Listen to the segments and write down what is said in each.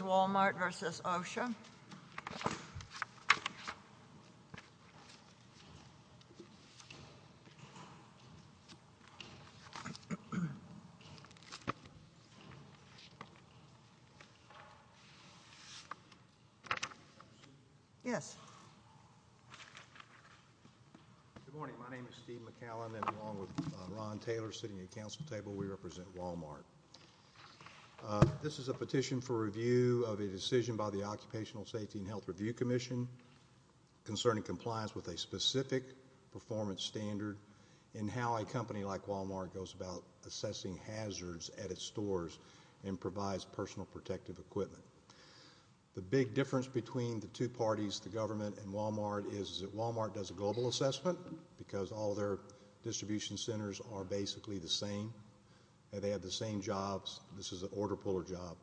Walmart v. OSHC Good morning, my name is Steve McCallum and along with Ron Taylor sitting at the Council table we represent Walmart. This is a petition for review of a decision by the Occupational Safety and Health Review Commission concerning compliance with a specific performance standard in how a company like stores and provides personal protective equipment. The big difference between the two parties, the government and Walmart, is that Walmart does a global assessment because all of their distribution centers are basically the same and they have the same jobs. This is an order-puller job.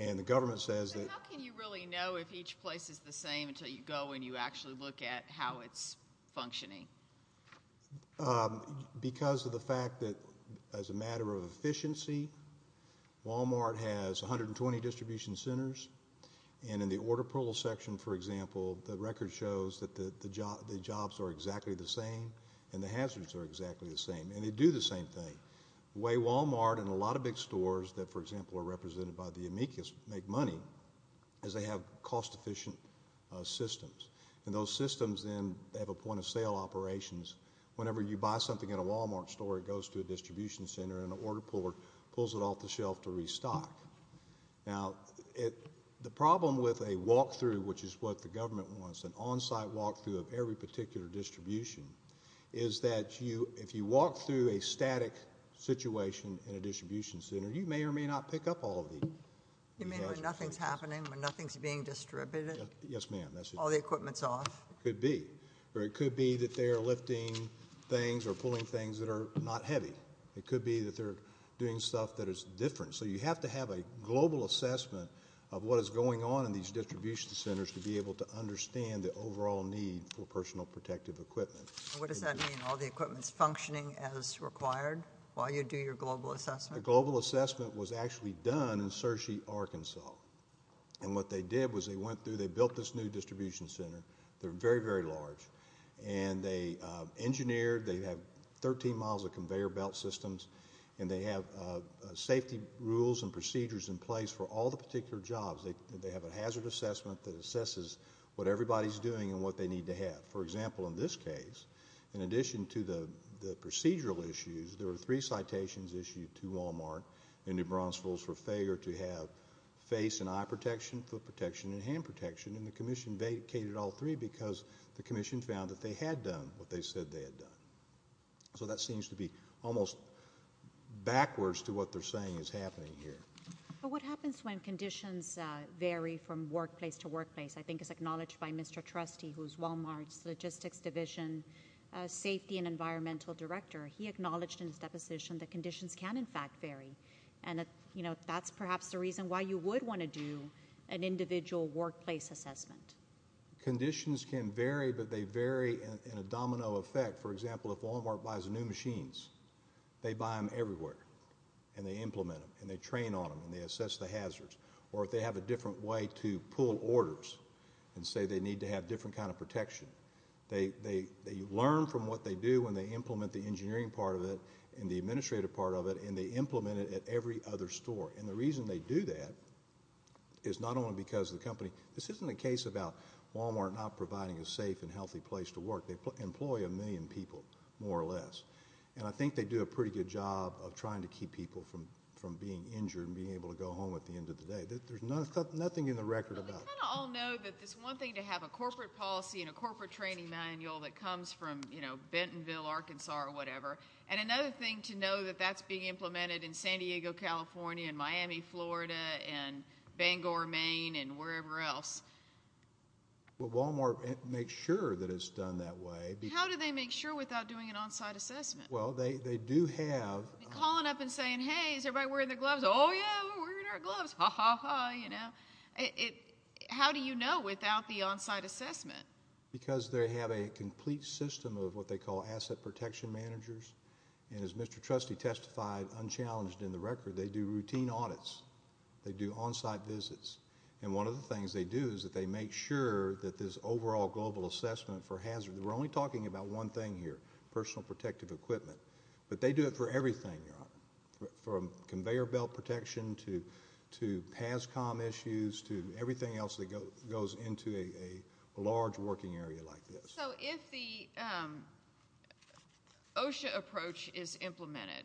And the government says that- So how can you really know if each place is the same until you go and you actually look at how it's functioning? Because of the fact that, as a matter of efficiency, Walmart has 120 distribution centers and in the order-pull section, for example, the record shows that the jobs are exactly the same and the hazards are exactly the same and they do the same thing. The way Walmart and a lot of big stores that, for example, are represented by the amicus make money is they have cost-efficient systems and those systems then have a point of sale operations. Whenever you buy something at a Walmart store, it goes to a distribution center and an order-puller pulls it off the shelf to restock. Now, the problem with a walk-through, which is what the government wants, an on-site walk-through of every particular distribution, is that if you walk through a static situation in a distribution center, you may or may not pick up all of the- You mean when nothing's happening, when nothing's being distributed? Yes, ma'am. That's it. All the equipment's off. Could be. Or it could be that they are lifting things or pulling things that are not heavy. It could be that they're doing stuff that is different. So you have to have a global assessment of what is going on in these distribution centers to be able to understand the overall need for personal protective equipment. What does that mean? All the equipment's functioning as required while you do your global assessment? The global assessment was actually done in Searcy, Arkansas. And what they did was they went through, they built this new distribution center. They're very, very large. And they engineered, they have 13 miles of conveyor belt systems, and they have safety rules and procedures in place for all the particular jobs. They have a hazard assessment that assesses what everybody's doing and what they need to have. For example, in this case, in addition to the procedural issues, there were three citations issued to Walmart and New Brunswick for failure to have face and eye protection, foot protection and hand protection. And the commission vacated all three because the commission found that they had done what they said they had done. So that seems to be almost backwards to what they're saying is happening here. What happens when conditions vary from workplace to workplace? I think it's acknowledged by Mr. Trustee, who's Walmart's Logistics Division Safety and Environmental Director. He acknowledged in his deposition that conditions can, in fact, vary. And that's perhaps the reason why you would want to do an individual workplace assessment. Conditions can vary, but they vary in a domino effect. For example, if Walmart buys new machines, they buy them everywhere. And they implement them. And they train on them. And they assess the hazards. Or if they have a different way to pull orders and say they need to have a different kind of protection. They learn from what they do when they implement the engineering part of it and the administrative part of it. And they implement it at every other store. And the reason they do that is not only because of the company. This isn't a case about Walmart not providing a safe and healthy place to work. They employ a million people, more or less. And I think they do a pretty good job of trying to keep people from being injured and being able to go home at the end of the day. There's nothing in the record about that. But we kind of all know that it's one thing to have a corporate policy and a corporate training manual that comes from Bentonville, Arkansas, or whatever. And another thing to know that that's being implemented in San Diego, California, and Miami, Florida, and Bangor, Maine, and wherever else. Well, Walmart makes sure that it's done that way. How do they make sure without doing an on-site assessment? Well, they do have... Calling up and saying, hey, is everybody wearing their gloves? Oh, yeah, we're wearing our gloves, ha, ha, ha, you know? How do you know without the on-site assessment? Because they have a complete system of what they call asset protection managers. And as Mr. Trustee testified, unchallenged in the record, they do routine audits. They do on-site visits. And one of the things they do is that they make sure that this overall global assessment for hazard... We're only talking about one thing here, personal protective equipment. But they do it for everything, Your Honor. From conveyor belt protection to PASCOM issues to everything else that goes into a large working area like this. So if the OSHA approach is implemented,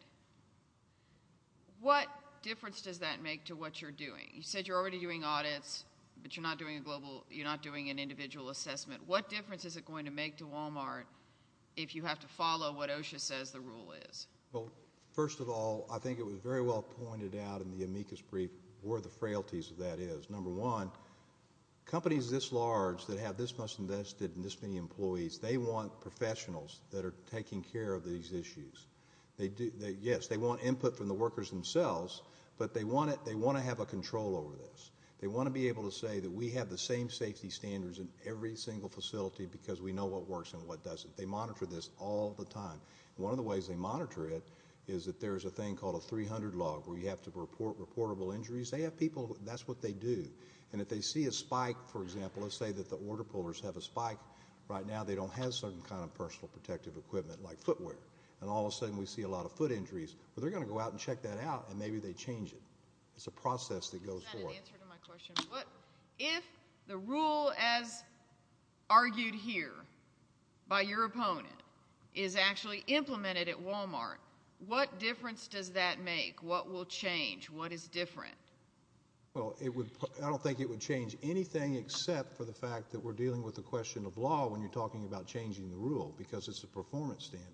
what difference does that make to what you're doing? You said you're already doing audits, but you're not doing a global... You're not doing an individual assessment. What difference is it going to make to Walmart if you have to follow what OSHA says the rule is? Well, first of all, I think it was very well pointed out in the amicus brief where the frailties of that is. Number one, companies this large that have this much invested and this many employees, they want professionals that are taking care of these issues. Yes, they want input from the workers themselves, but they want to have a control over this. They want to be able to say that we have the same safety standards in every single facility because we know what works and what doesn't. They monitor this all the time. One of the ways they monitor it is that there's a thing called a 300 log where you have to report reportable injuries. They have people... That's what they do. If they see a spike, for example, let's say that the order pullers have a spike right now. They don't have some kind of personal protective equipment like footwear, and all of a sudden we see a lot of foot injuries. Well, they're going to go out and check that out, and maybe they change it. It's a process that goes forward. That's not an answer to my question. If the rule as argued here by your opponent is actually implemented at Walmart, what difference does that make? What will change? What is different? Well, I don't think it would change anything except for the fact that we're dealing with the question of law when you're talking about changing the rule because it's a performance standard.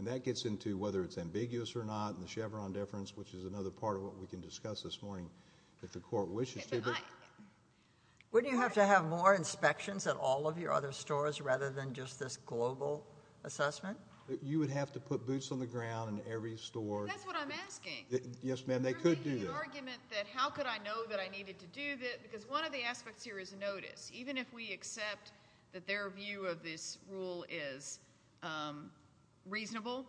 That gets into whether it's ambiguous or not, and the Chevron deference, which is another part of what we can discuss this morning if the court wishes to. Wouldn't you have to have more inspections at all of your other stores rather than just this global assessment? You would have to put boots on the ground in every store. That's what I'm asking. Yes, ma'am. And they could do that. You're making the argument that how could I know that I needed to do that because one of the aspects here is notice. Even if we accept that their view of this rule is reasonable,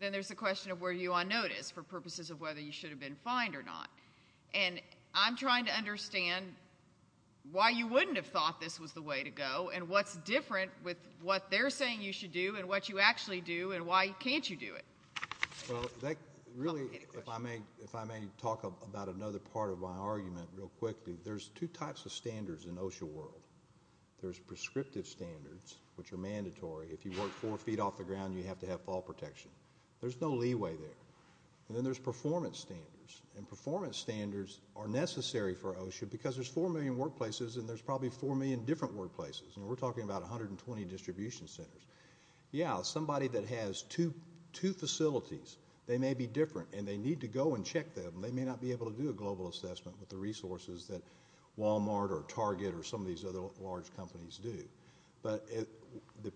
then there's the question of were you on notice for purposes of whether you should have been fined or not. And I'm trying to understand why you wouldn't have thought this was the way to go and what's different with what they're saying you should do and what you actually do and why can't you do it. Well, that really, if I may talk about another part of my argument real quickly, there's two types of standards in OSHA world. There's prescriptive standards, which are mandatory. If you work four feet off the ground, you have to have fall protection. There's no leeway there. And then there's performance standards, and performance standards are necessary for OSHA because there's four million workplaces and there's probably four million different workplaces. We're talking about 120 distribution centers. Yeah, somebody that has two facilities, they may be different and they need to go and check them. They may not be able to do a global assessment with the resources that Walmart or Target or some of these other large companies do. But the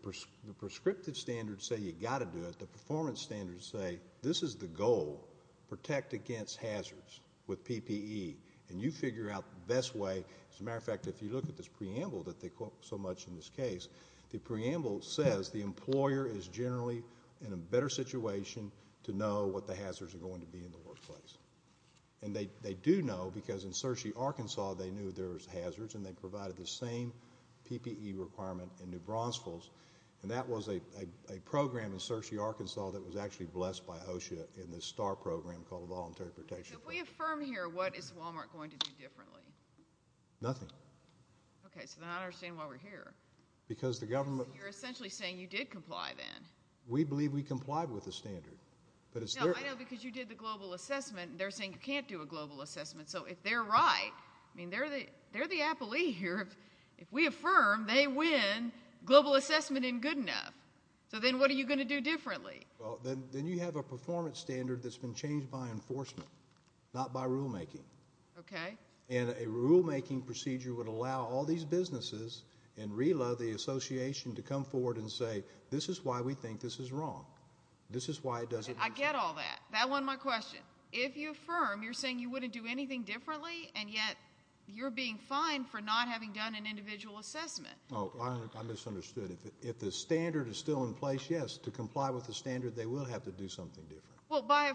prescriptive standards say you've got to do it, the performance standards say this is the goal, protect against hazards with PPE, and you figure out the best way. As a matter of fact, if you look at this preamble that they quote so much in this case, the employer is generally in a better situation to know what the hazards are going to be in the workplace. And they do know because in Searcy, Arkansas, they knew there was hazards and they provided the same PPE requirement in New Braunsvilles, and that was a program in Searcy, Arkansas that was actually blessed by OSHA in this STAR program called Voluntary Protection. So if we affirm here, what is Walmart going to do differently? Nothing. Okay, so they're not understanding why we're here. Because the government- But they're essentially saying you did comply then. We believe we complied with the standard. But it's their- No, I know, because you did the global assessment, and they're saying you can't do a global assessment. So if they're right, I mean, they're the appellee here. If we affirm, they win global assessment in good enough. So then what are you going to do differently? Well, then you have a performance standard that's been changed by enforcement, not by rulemaking. Okay. And a rulemaking procedure would allow all these businesses and RILA, the association, to come forward and say, this is why we think this is wrong. This is why it doesn't work. I get all that. That won my question. If you affirm, you're saying you wouldn't do anything differently, and yet you're being fined for not having done an individual assessment. Oh, I misunderstood. If the standard is still in place, yes, to comply with the standard, they will have to do something different. Well, by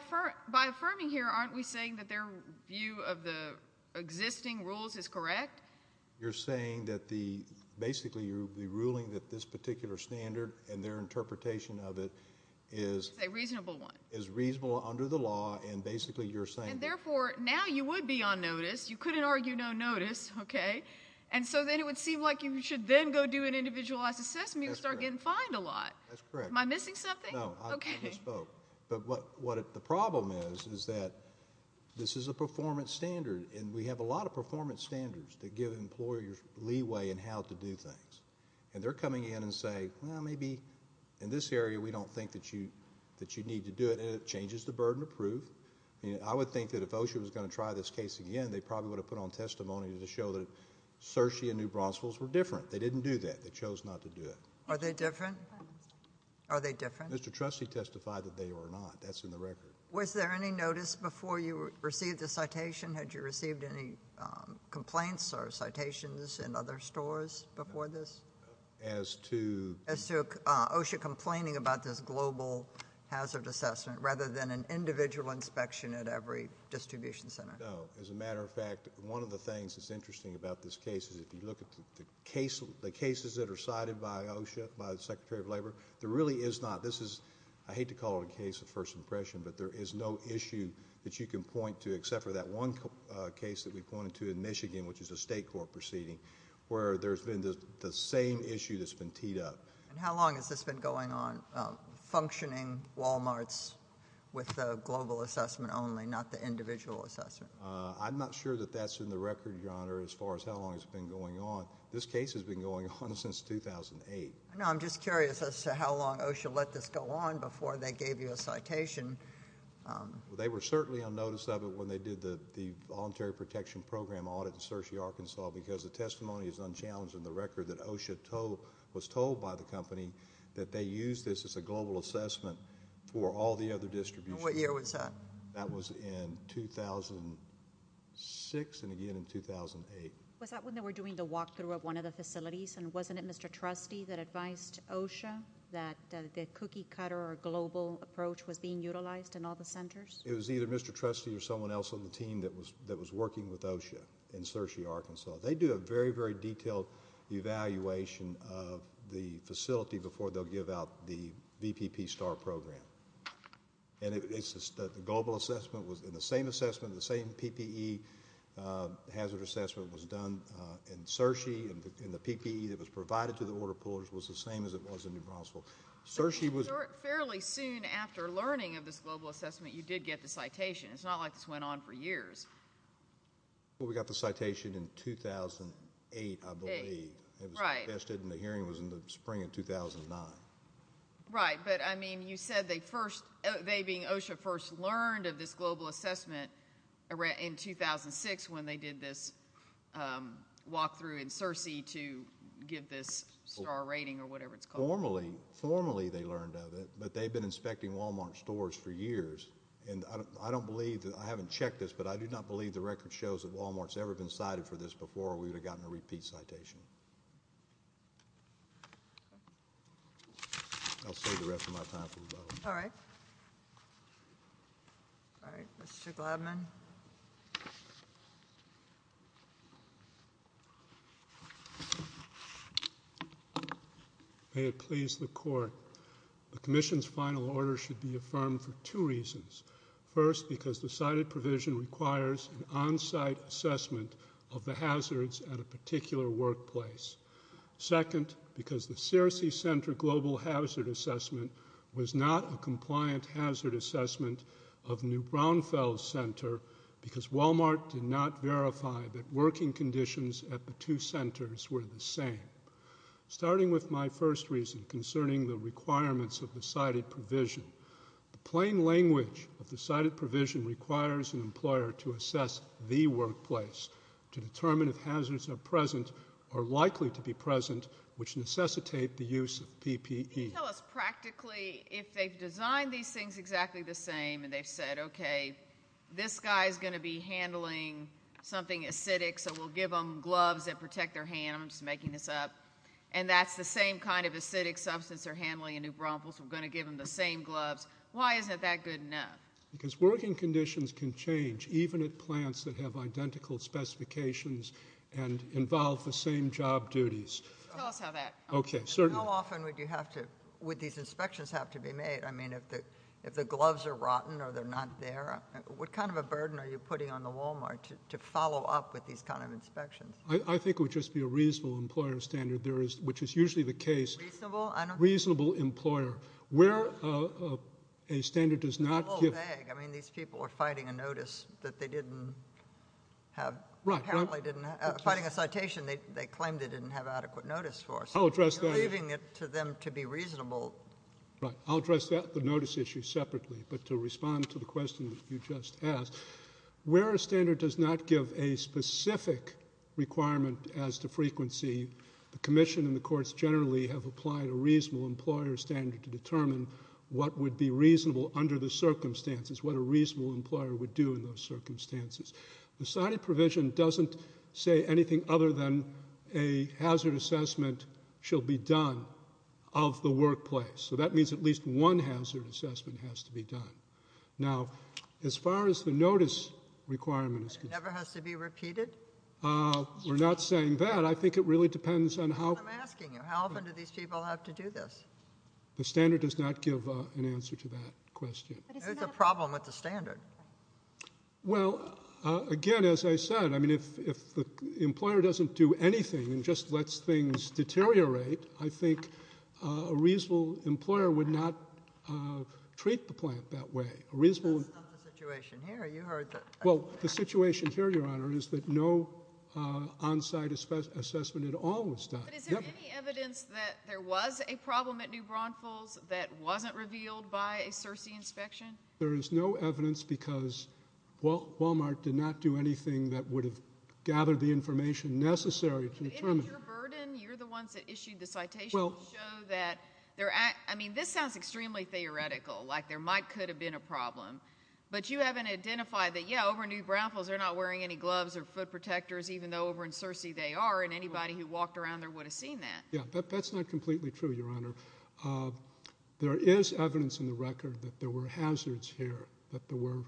affirming here, aren't we saying that their view of the existing rules is correct? You're saying that the, basically, you're the ruling that this particular standard and their interpretation of it is a reasonable one, is reasonable under the law, and basically you're saying. And therefore, now you would be on notice. You couldn't argue no notice, okay? And so then it would seem like you should then go do an individualized assessment and start getting fined a lot. That's correct. Am I missing something? No. Okay. I misspoke. But what the problem is, is that this is a performance standard, and we have a lot of these standards that give employers leeway in how to do things. And they're coming in and saying, well, maybe in this area we don't think that you need to do it. And it changes the burden of proof. I would think that if OSHA was going to try this case again, they probably would have put on testimony to show that Searcy and New Brunswick were different. They didn't do that. They chose not to do it. Are they different? Are they different? Mr. Trustee testified that they were not. That's in the record. Was there any notice before you received the citation? Had you received any complaints or citations in other stores before this? As to? As to OSHA complaining about this global hazard assessment, rather than an individual inspection at every distribution center. No. As a matter of fact, one of the things that's interesting about this case is if you look at the cases that are cited by OSHA, by the Secretary of Labor, there really is not. This is, I hate to call it a case of first impression, but there is no issue that you can point to except for that one case that we pointed to in Michigan, which is a state court proceeding, where there's been the same issue that's been teed up. How long has this been going on, functioning Walmarts with the global assessment only, not the individual assessment? I'm not sure that that's in the record, Your Honor, as far as how long it's been going on. This case has been going on since 2008. I'm just curious as to how long OSHA let this go on before they gave you a citation. Well, they were certainly on notice of it when they did the Voluntary Protection Program audit in Searcy, Arkansas, because the testimony is unchallenged in the record that OSHA was told by the company that they used this as a global assessment for all the other distributions. What year was that? That was in 2006, and again in 2008. Was that when they were doing the walkthrough of one of the facilities, and wasn't it Mr. Trustee that advised OSHA that the cookie cutter or global approach was being utilized in all the centers? It was either Mr. Trustee or someone else on the team that was working with OSHA in Searcy, Arkansas. They do a very, very detailed evaluation of the facility before they'll give out the VPP STAR Program. The global assessment was in the same assessment, the same PPE hazard assessment was done in the order pullers was the same as it was in New Brunswick. Searcy was Fairly soon after learning of this global assessment, you did get the citation. It's not like this went on for years. We got the citation in 2008, I believe, and the hearing was in the spring of 2009. Right, but I mean, you said they first, they being OSHA, first learned of this global assessment in 2006 when they did this walkthrough in Searcy to give this STAR rating or whatever it's called. Formally, formally they learned of it, but they've been inspecting Walmart stores for years, and I don't believe, I haven't checked this, but I do not believe the record shows that Walmart's ever been cited for this before, or we would have gotten a repeat citation. I'll save the rest of my time for the vote. All right. All right. Mr. Gladman. May it please the court. The commission's final order should be affirmed for two reasons. First, because the cited provision requires an on-site assessment of the hazards at a particular workplace. Second, because the Searcy Center global hazard assessment was not a compliant hazard assessment of New Braunfels Center because Walmart did not verify that working conditions at the two centers were the same. Starting with my first reason concerning the requirements of the cited provision, the plain language of the cited provision requires an employer to assess the workplace to determine if hazards are present or likely to be present, which necessitate the use of PPE. Can you tell us practically if they've designed these things exactly the same and they've said, okay, this guy's going to be handling something acidic, so we'll give them gloves that protect their hands, I'm just making this up, and that's the same kind of acidic substance they're handling in New Braunfels, we're going to give them the same gloves, why isn't that good enough? Because working conditions can change even at plants that have identical specifications and involve the same job duties. How often would these inspections have to be made? I mean, if the gloves are rotten or they're not there, what kind of a burden are you putting on the Walmart to follow up with these kind of inspections? I think it would just be a reasonable employer standard, which is usually the case. Reasonable? Reasonable employer. Where a standard does not give... A whole bag. I mean, these people are fighting a notice that they didn't have... Right, right. Apparently didn't... Fighting a citation they claimed they didn't have adequate notice for. I'll address that. Leaving it to them to be reasonable. Right. I'll address the notice issue separately, but to respond to the question that you just asked, where a standard does not give a specific requirement as to frequency, the commission and the courts generally have applied a reasonable employer standard to determine what would be reasonable under the circumstances, what a reasonable employer would do in those circumstances. The cited provision doesn't say anything other than a hazard assessment shall be done of the workplace. So that means at least one hazard assessment has to be done. Now, as far as the notice requirement is concerned... It never has to be repeated? We're not saying that. But I think it really depends on how... That's what I'm asking you. How often do these people have to do this? The standard does not give an answer to that question. There's a problem with the standard. Well, again, as I said, I mean, if the employer doesn't do anything and just lets things deteriorate, I think a reasonable employer would not treat the plant that way. A reasonable... That's not the situation here. You heard that. Well, the situation here, Your Honor, is that no on-site assessment at all was done. But is there any evidence that there was a problem at New Braunfels that wasn't revealed by a Searcy inspection? There is no evidence because Walmart did not do anything that would have gathered the information necessary to determine... Isn't it your burden? You're the ones that issued the citation to show that... I mean, this sounds extremely theoretical, like there might could have been a problem, but you haven't identified that, yeah, over in New Braunfels, they're not wearing any gloves or foot protectors, even though over in Searcy they are, and anybody who walked around there would have seen that. Yeah, but that's not completely true, Your Honor. There is evidence in the record that there were hazards here, that there were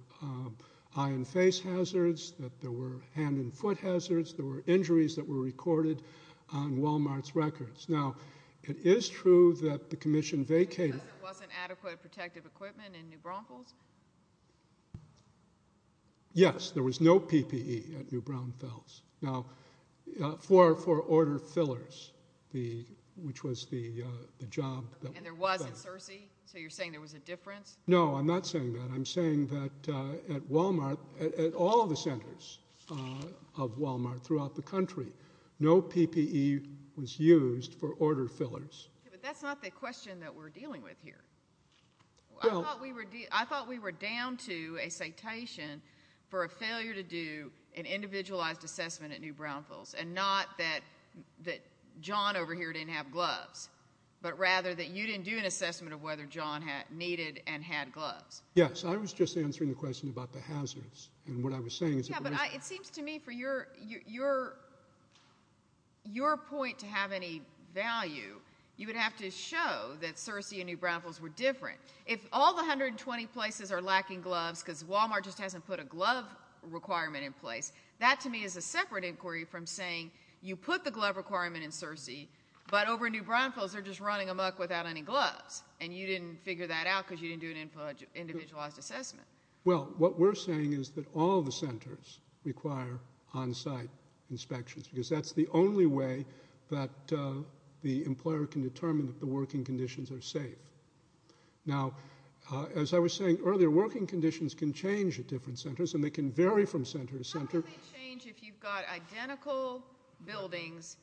eye and face hazards, that there were hand and foot hazards, there were injuries that were recorded on Walmart's records. Now, it is true that the commission vacated... Yes, there was no PPE at New Braunfels. Now, for order fillers, which was the job... And there was at Searcy? So you're saying there was a difference? No, I'm not saying that. I'm saying that at Walmart, at all the centers of Walmart throughout the country, no PPE was used for order fillers. But that's not the question that we're dealing with here. I thought we were down to a citation for a failure to do an individualized assessment at New Braunfels, and not that John over here didn't have gloves, but rather that you didn't do an assessment of whether John needed and had gloves. Yes, I was just answering the question about the hazards, and what I was saying is... Yeah, but it seems to me for your point to have any value, you would have to show that Searcy and New Braunfels are different. If all the 120 places are lacking gloves because Walmart just hasn't put a glove requirement in place, that to me is a separate inquiry from saying you put the glove requirement in Searcy, but over at New Braunfels, they're just running them up without any gloves, and you didn't figure that out because you didn't do an individualized assessment. Well, what we're saying is that all the centers require on-site inspections, because that's the only way that the employer can determine if the working conditions are safe. Now, as I was saying earlier, working conditions can change at different centers, and they can vary from center to center. How do they change if you've got identical buildings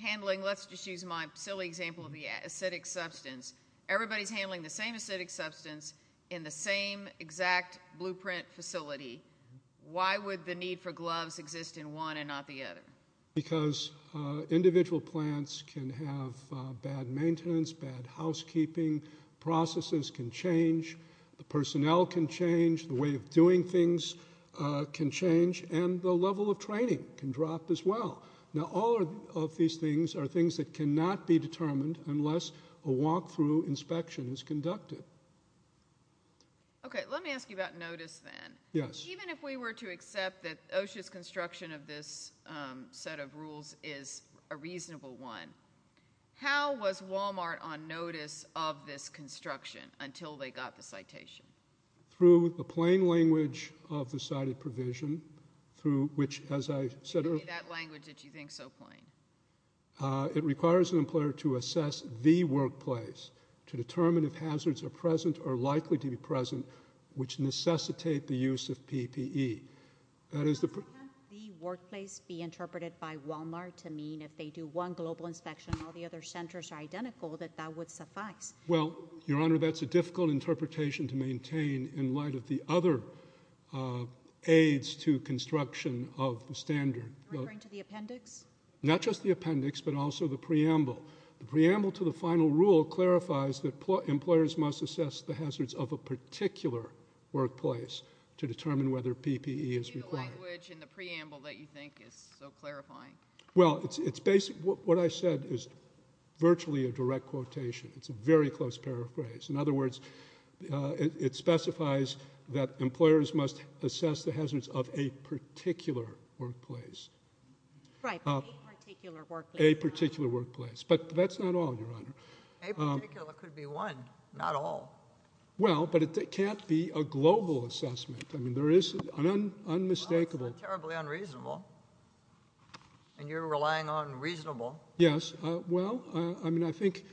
handling, let's just use my silly example of the acidic substance. Everybody's handling the same acidic substance in the same exact blueprint facility. Why would the need for gloves exist in one and not the other? Because individual plants can have bad maintenance, bad housekeeping, processes can change, the personnel can change, the way of doing things can change, and the level of training can drop as well. Now, all of these things are things that cannot be determined unless a walk-through inspection is conducted. Okay. Let me ask you about notice then. Yes. Even if we were to accept that OSHA's construction of this set of rules is a reasonable one, how was Walmart on notice of this construction until they got the citation? Through the plain language of the cited provision, through which, as I said earlier Maybe that language that you think is so plain. It requires an employer to assess the workplace to determine if hazards are present or likely to be Can't the workplace be interpreted by Walmart to mean if they do one global inspection, all the other centers are identical, that that would suffice? Well, your honor, that's a difficult interpretation to maintain in light of the other aids to construction of the standard. You're referring to the appendix? Not just the appendix, but also the preamble. The preamble to the final rule clarifies that employers must assess the hazards of a particular workplace to determine whether PPE is required. Maybe the language in the preamble that you think is so clarifying. Well, what I said is virtually a direct quotation. It's a very close paraphrase. In other words, it specifies that employers must assess the hazards of a particular workplace. Right. A particular workplace. A particular workplace. But that's not all, your honor. A particular could be one, not all. Well, but it can't be a global assessment. I mean, there is an unmistakable Well, it's not terribly unreasonable. And you're relying on reasonable. Yes. Well, I mean, I think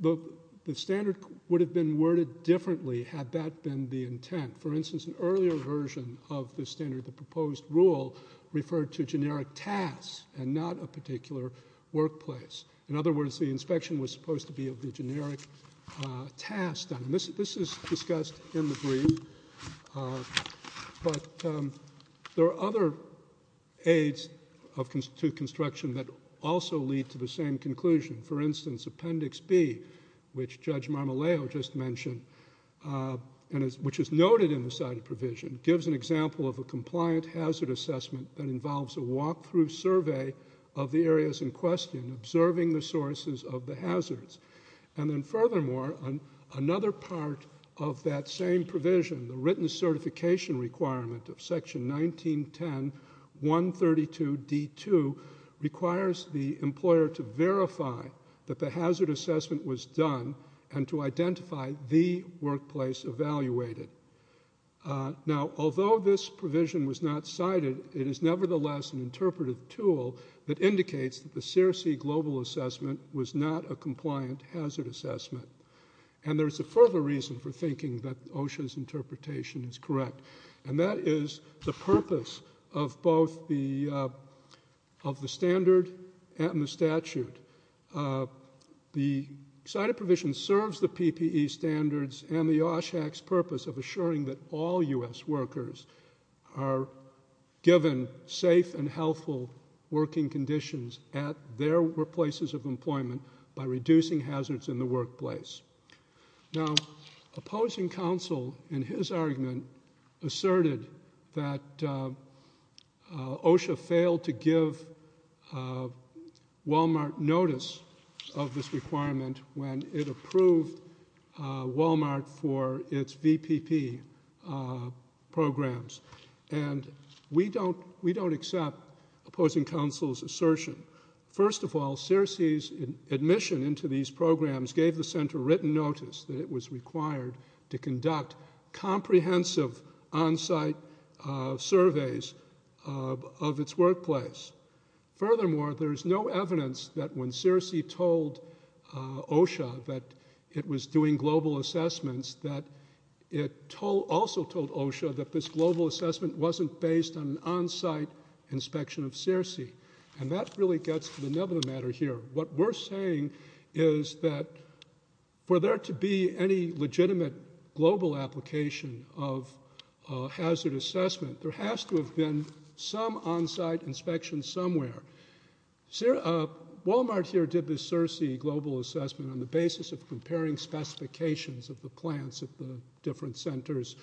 the standard would have been worded differently had that been the intent. For instance, an earlier version of the standard, the proposed rule, referred to generic tasks and not a particular workplace. In other words, the inspection was supposed to be of the generic task. And this is discussed in the brief. But there are other aids to construction that also lead to the same conclusion. For instance, Appendix B, which Judge Marmolejo just mentioned, which is noted in the cited provision, gives an example of a compliant hazard assessment that involves a walk-through survey of the areas in question, observing the sources of the hazards. And then furthermore, another part of that same provision, the written certification requirement of Section 1910.132.D2, requires the employer to verify that the hazard assessment was done and to identify the workplace evaluated. Now, although this provision was not cited, it is nevertheless an interpretive tool that indicates that the SEERC global assessment was not a compliant hazard assessment. And there's a further reason for thinking that OSHA's interpretation is correct. And that is the purpose of both the standard and the statute. The cited provision serves the PPE standards and the OSHAC's purpose of assuring that all U.S. workers are given safe and healthful working conditions at their places of employment by reducing hazards in the workplace. Now, opposing counsel in his argument asserted that OSHA failed to give Walmart notice of this requirement when it approved Walmart for its VPP programs. And we don't accept opposing counsel's assertion. First of all, SEERC's admission into these programs gave the center written notice that it was required to conduct comprehensive on-site surveys of its workplace. Furthermore, there's no evidence that when SEERC told OSHA that it was doing global assessments, that it also told OSHA that this global assessment wasn't based on an on-site inspection of SEERC. And that really gets to the nub of the matter here. What we're saying is that for there to be any legitimate global application of hazard assessment, there has to have been some on-site inspection somewhere. Walmart here did this SEERC global assessment on the basis of comparing specifications of the plants at the different centers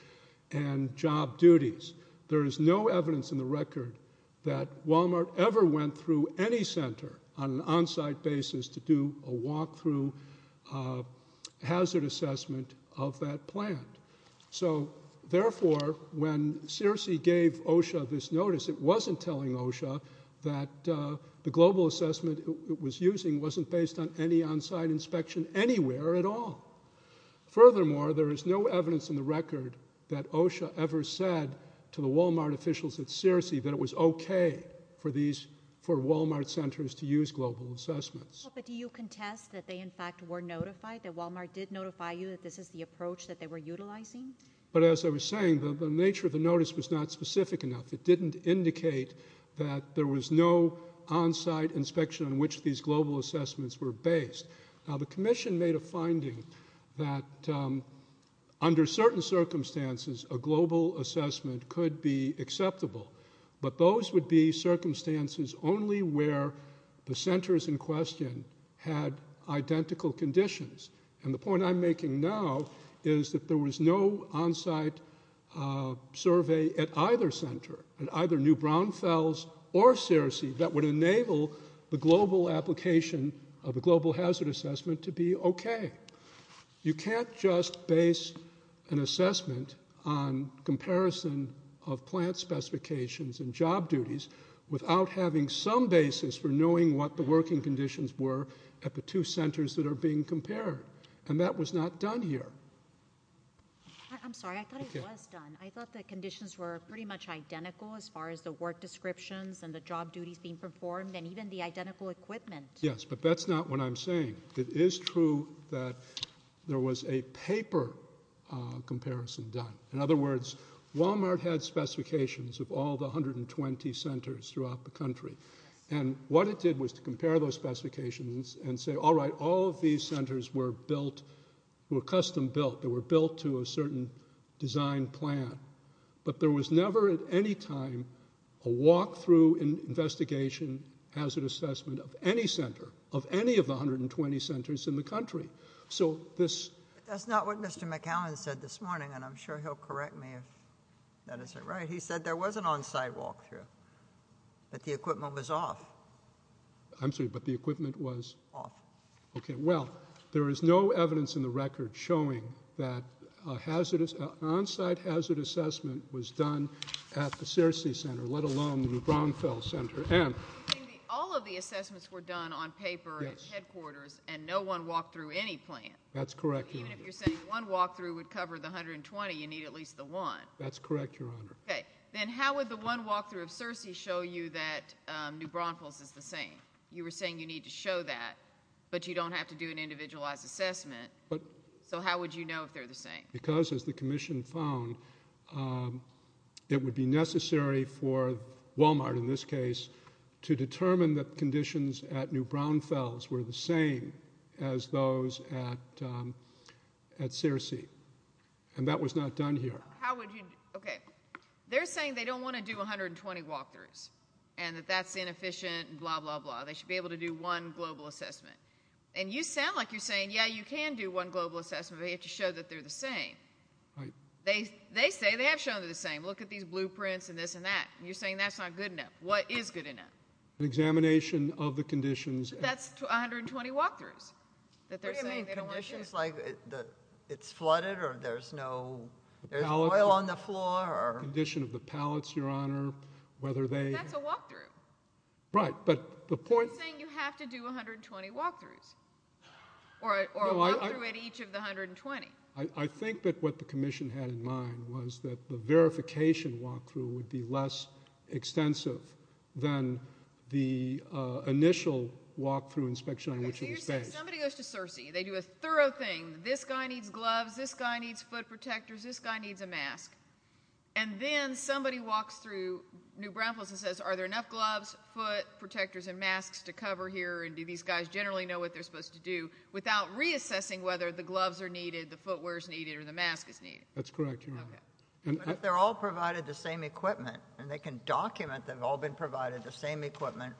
and job duties. There is no evidence in the record that Walmart ever went through any center on an on-site basis to do a walk-through hazard assessment of that plant. So, therefore, when SEERC gave OSHA this notice, it wasn't telling OSHA that the global assessment it was using wasn't based on any on-site inspection anywhere at all. Furthermore, there is no evidence in the record that OSHA ever said to the Walmart officials at SEERC that it was okay for Walmart centers to use global assessments. Well, but do you contest that they, in fact, were notified, that Walmart did notify you that this is the approach that they were utilizing? But as I was saying, the nature of the notice was not specific enough. It didn't indicate that there was no on-site inspection on which these global assessments were based. Now, the commission made a finding that under certain circumstances, a global assessment could be acceptable. But those would be circumstances only where the centers in question had identical conditions. And the point I'm making now is that there was no on-site survey at either center, at either New Braunfels or SEERC, that would enable the global application of a global hazard assessment to be okay. You can't just base an assessment on comparison of plant specifications and job duties without having some basis for knowing what the working conditions were at the two centers that are being compared. And that was not done here. I'm sorry, I thought it was done. I thought the conditions were pretty much identical as far as the work descriptions and the job duties being performed and even the identical equipment. Yes, but that's not what I'm saying. It is true that there was a paper comparison done. In other words, Walmart had specifications of all the 120 centers throughout the country. And what it did was to compare those specifications and say, all right, all of these centers were built, were custom built. They were built to a certain design plan. But there was never at any time a walk-through investigation hazard assessment of any center, of any of the 120 centers in the country. So this... That's not what Mr. McAllen said this morning, and I'm sure he'll correct me if that isn't right. He said there was an on-site walk-through, but the equipment was off. I'm sorry, but the equipment was... Off. Okay, well, there is no evidence in the record showing that an on-site hazard assessment was done at the Searcy Center, let alone the New Braunfels Center. All of the assessments were done on paper at headquarters, and no one walked through any plant. That's correct, Your Honor. Even if you're saying one walk-through would cover the 120, you need at least the one. That's correct, Your Honor. Okay, then how would the one walk-through of Searcy show you that New Braunfels is the same? You were saying you need to show that, but you don't have to do an individualized assessment. So how would you know if they're the same? Because, as the commission found, it would be necessary for Walmart, in this case, to determine that conditions at New Braunfels were the same as those at Searcy, and that was not done here. How would you... Okay, they're saying they don't want to do 120 walk-throughs and that that's inefficient and blah, blah, blah. They should be able to do one global assessment. And you sound like you're saying, yeah, you can do one global assessment, but you have to show that they're the same. They say they have shown they're the same. Look at these blueprints and this and that, and you're saying that's not good enough. What is good enough? An examination of the conditions. Conditions like it's flooded or there's no oil on the floor. Condition of the pallets, Your Honor, whether they... That's a walk-through. Right, but the point... You're saying you have to do 120 walk-throughs or a walk-through at each of the 120. I think that what the commission had in mind was that the verification walk-through would be less extensive than the initial walk-through inspection on which it was based. You're saying somebody goes to Searcy. They do a thorough thing. This guy needs gloves. This guy needs foot protectors. This guy needs a mask. And then somebody walks through New Bramples and says, are there enough gloves, foot protectors, and masks to cover here? And do these guys generally know what they're supposed to do without reassessing whether the gloves are needed, the footwear is needed, or the mask is needed? That's correct, Your Honor. But if they're all provided the same equipment and they can document they've all been provided the same equipment,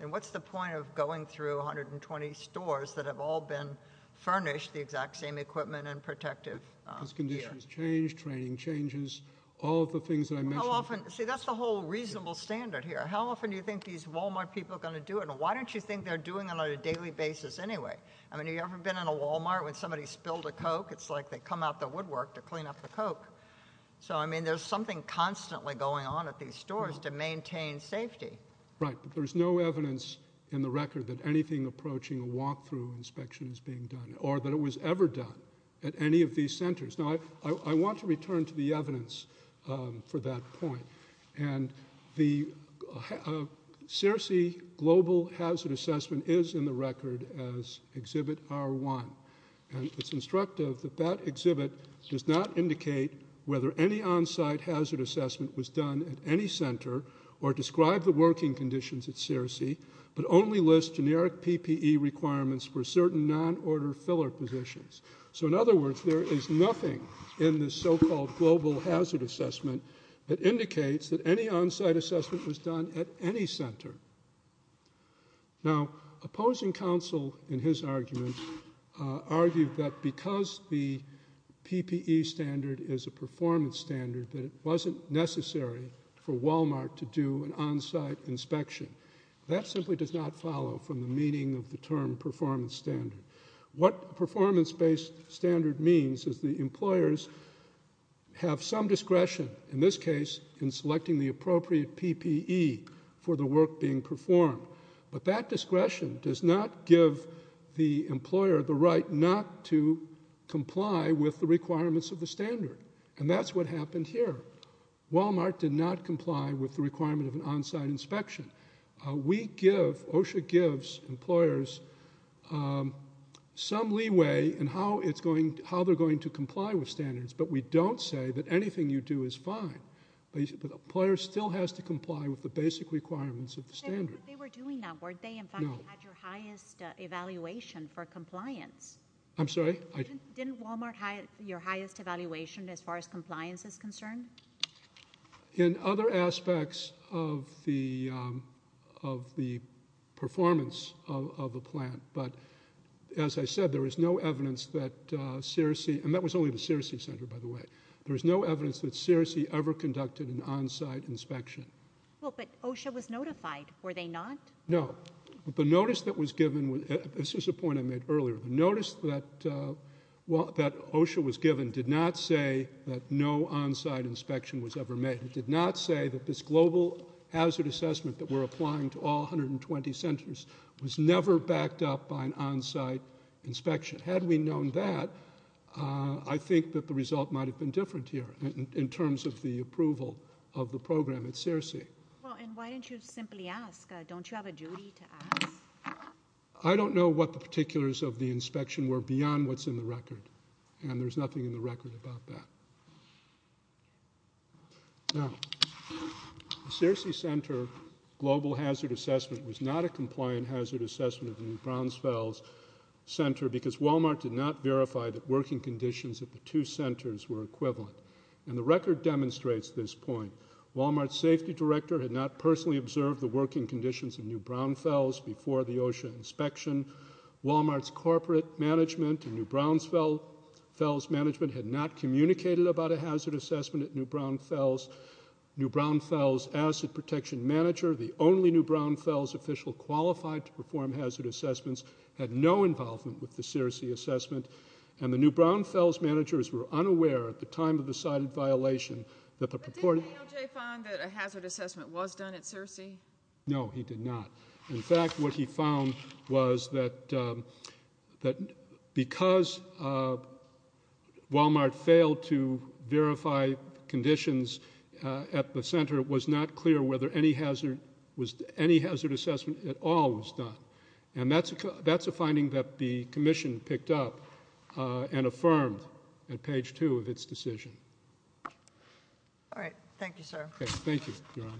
then what's the point of going through 120 stores that have all been furnished the exact same equipment and protective gear? Because conditions change, training changes, all of the things that I mentioned... How often... See, that's the whole reasonable standard here. How often do you think these Walmart people are going to do it, and why don't you think they're doing it on a daily basis anyway? I mean, have you ever been in a Walmart when somebody spilled a Coke? It's like they come out the woodwork to clean up the Coke. So, I mean, there's something constantly going on at these stores to maintain safety. Right, but there's no evidence in the record that anything approaching a walk-through inspection is being done, or that it was ever done at any of these centers. Now, I want to return to the evidence for that point. And the SEERC Global Hazard Assessment is in the record as Exhibit R1. And it's instructive that that exhibit does not indicate whether any on-site hazard assessment was done at any center or describe the working conditions at SEERC, but only lists generic PPE requirements for certain non-order filler positions. So, in other words, there is nothing in this so-called Global Hazard Assessment that indicates that any on-site assessment was done at any center. Now, opposing counsel in his argument argued that because the PPE standard is a performance standard, that it wasn't necessary for Walmart to do an on-site inspection. That simply does not follow from the meaning of the term performance standard. What performance-based standard means is the employers have some discretion, in this case, in selecting the appropriate PPE for the work being performed. But that discretion does not give the employer the right not to comply with the requirements of the standard. And that's what happened here. Walmart did not comply with the requirement of an on-site inspection. We give, OSHA gives, employers some leeway in how they're going to comply with standards, but we don't say that anything you do is fine. But the employer still has to comply with the basic requirements of the standard. They were doing that, weren't they? No. In fact, they had your highest evaluation for compliance. I'm sorry? Didn't Walmart have your highest evaluation as far as compliance is concerned? In other aspects of the performance of the plant. But as I said, there is no evidence that Searcy, and that was only the Searcy Center, by the way, there is no evidence that Searcy ever conducted an on-site inspection. Well, but OSHA was notified. Were they not? No. The notice that was given, this was a point I made earlier, the notice that OSHA was given did not say that no on-site inspection was ever made. It did not say that this global hazard assessment that we're applying to all 120 centers was never backed up by an on-site inspection. Had we known that, I think that the result might have been different here in terms of the approval of the program at Searcy. Well, and why didn't you simply ask? Don't you have a duty to ask? I don't know what the particulars of the inspection were beyond what's in the record, and there's nothing in the record about that. Now, the Searcy Center global hazard assessment was not a compliant hazard assessment of the New Brownsvilles Center because Walmart did not verify that working conditions at the two centers were equivalent. And the record demonstrates this point. Walmart's safety director had not personally observed the working conditions in New Brownsvilles before the OSHA inspection. Walmart's corporate management and New Brownsvilles management had not communicated about a hazard assessment at New Brownsvilles. New Brownsvilles' asset protection manager, the only New Brownsvilles official qualified to perform hazard assessments, had no involvement with the Searcy assessment, and the New Brownsvilles managers were unaware at the time of the cited violation that the report... But didn't ALJ find that a hazard assessment was done at Searcy? No, he did not. In fact, what he found was that because Walmart failed to verify conditions at the center, it was not clear whether any hazard assessment at all was done. And that's a finding that the commission picked up and affirmed at page 2 of its decision. All right. Thank you, sir. Okay. Thank you, Your Honor.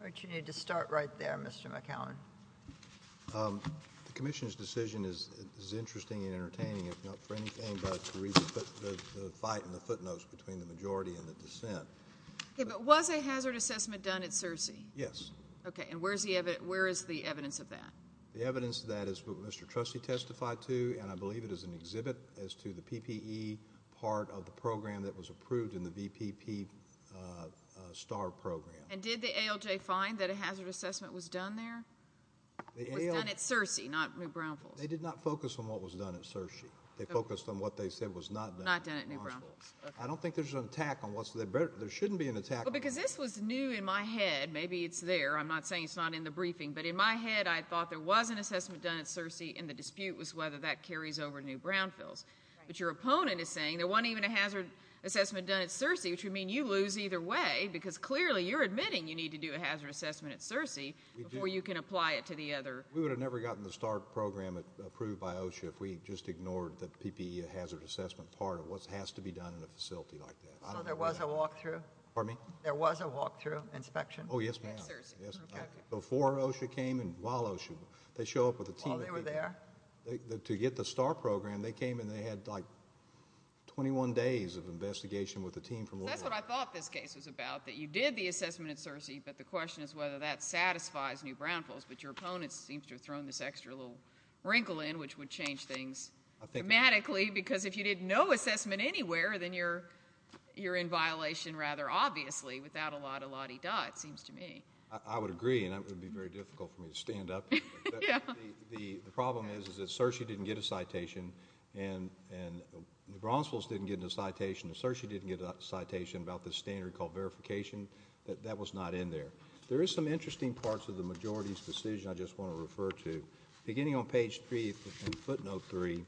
All right. You need to start right there, Mr. McAllen. The commission's decision is interesting and entertaining, if not for anything but to read the fight in the footnotes between the majority and the dissent. Okay. But was a hazard assessment done at Searcy? Yes. Okay. And where is the evidence of that? The evidence of that is what Mr. Trustee testified to, and I believe it is an exhibit as to the PPE part of the program that was approved in the VPP STAR program. And did the ALJ find that a hazard assessment was done there? It was done at Searcy, not New Brownfields. They did not focus on what was done at Searcy. They focused on what they said was not done at New Brownfields. Not done at New Brownfields. I don't think there's an attack on what's there. There shouldn't be an attack on what's there. Well, because this was new in my head. Maybe it's there. I'm not saying it's not in the briefing. But in my head, I thought there was an assessment done at Searcy, and the dispute was whether that carries over to New Brownfields. Right. But your opponent is saying there wasn't even a hazard assessment done at Searcy, which would mean you lose either way, because clearly you're admitting you need to do a hazard assessment at Searcy before you can apply it to the other. We would have never gotten the STAR program approved by OSHA if we just ignored the PPE hazard assessment part of what has to be done in a facility like that. So there was a walkthrough? Pardon me? There was a walkthrough inspection? Oh, yes, ma'am. At Searcy. Before OSHA came and while OSHA, they show up with a team. While they were there? To get the STAR program, they came and they had like 21 days of investigation with a team from OSHA. That's what I thought this case was about, that you did the assessment at Searcy, but the question is whether that satisfies New Brownfields. But your opponent seems to have thrown this extra little wrinkle in, which would change things dramatically, because if you did no assessment anywhere, then you're in violation rather obviously without a lot of la-di-da, it seems to me. I would agree, and that would be very difficult for me to stand up. The problem is that Searcy didn't get a citation, and New Brownfields didn't get a citation, and Searcy didn't get a citation about this standard called verification. That was not in there. There is some interesting parts of the majority's decision I just want to refer to. Beginning on page 3 in footnote 3,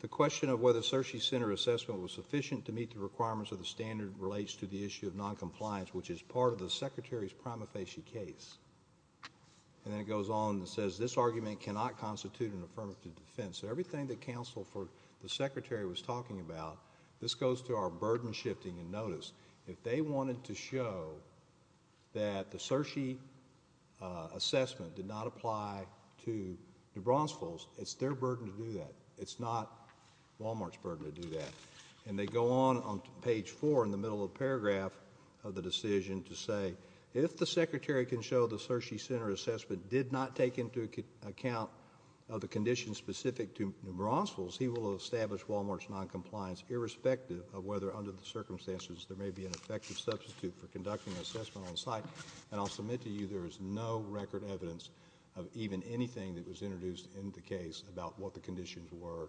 the question of whether Searcy center assessment was sufficient to meet the requirements of the standard relates to the issue of noncompliance, which is part of the Secretary's prima facie case. Then it goes on and says this argument cannot constitute an affirmative defense. Everything the counsel for the Secretary was talking about, this goes to our burden shifting in notice. If they wanted to show that the Searcy assessment did not apply to New Brownfields, it's their burden to do that. It's not Wal-Mart's burden to do that. And they go on on page 4 in the middle of the paragraph of the decision to say, if the Secretary can show the Searcy center assessment did not take into account of the conditions specific to New Brownfields, he will establish Wal-Mart's noncompliance, irrespective of whether under the circumstances there may be an effective substitute for conducting an assessment on site. And I'll submit to you there is no record evidence of even anything that was introduced in the case about what the conditions were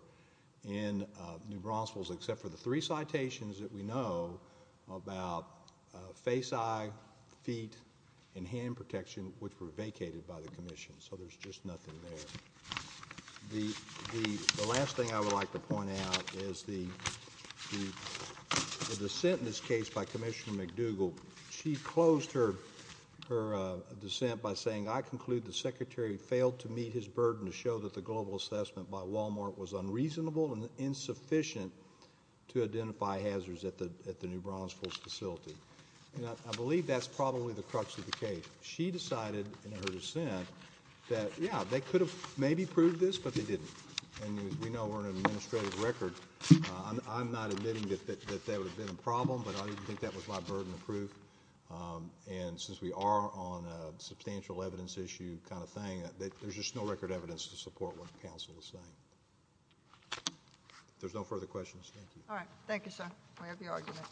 in New Brownfields, except for the three citations that we know about face-eye, feet, and hand protection, which were vacated by the commission. So there's just nothing there. The last thing I would like to point out is the dissent in this case by Commissioner McDougall. She closed her dissent by saying, I conclude the Secretary failed to meet his burden to show that the global assessment by Wal-Mart was unreasonable and insufficient to identify hazards at the New Brownfields facility. And I believe that's probably the crux of the case. But she decided in her dissent that, yeah, they could have maybe proved this, but they didn't. And we know we're on an administrative record. I'm not admitting that that would have been a problem, but I didn't think that was my burden of proof. And since we are on a substantial evidence issue kind of thing, there's just no record evidence to support what counsel is saying. If there's no further questions, thank you. All right, thank you, sir. We have your argument.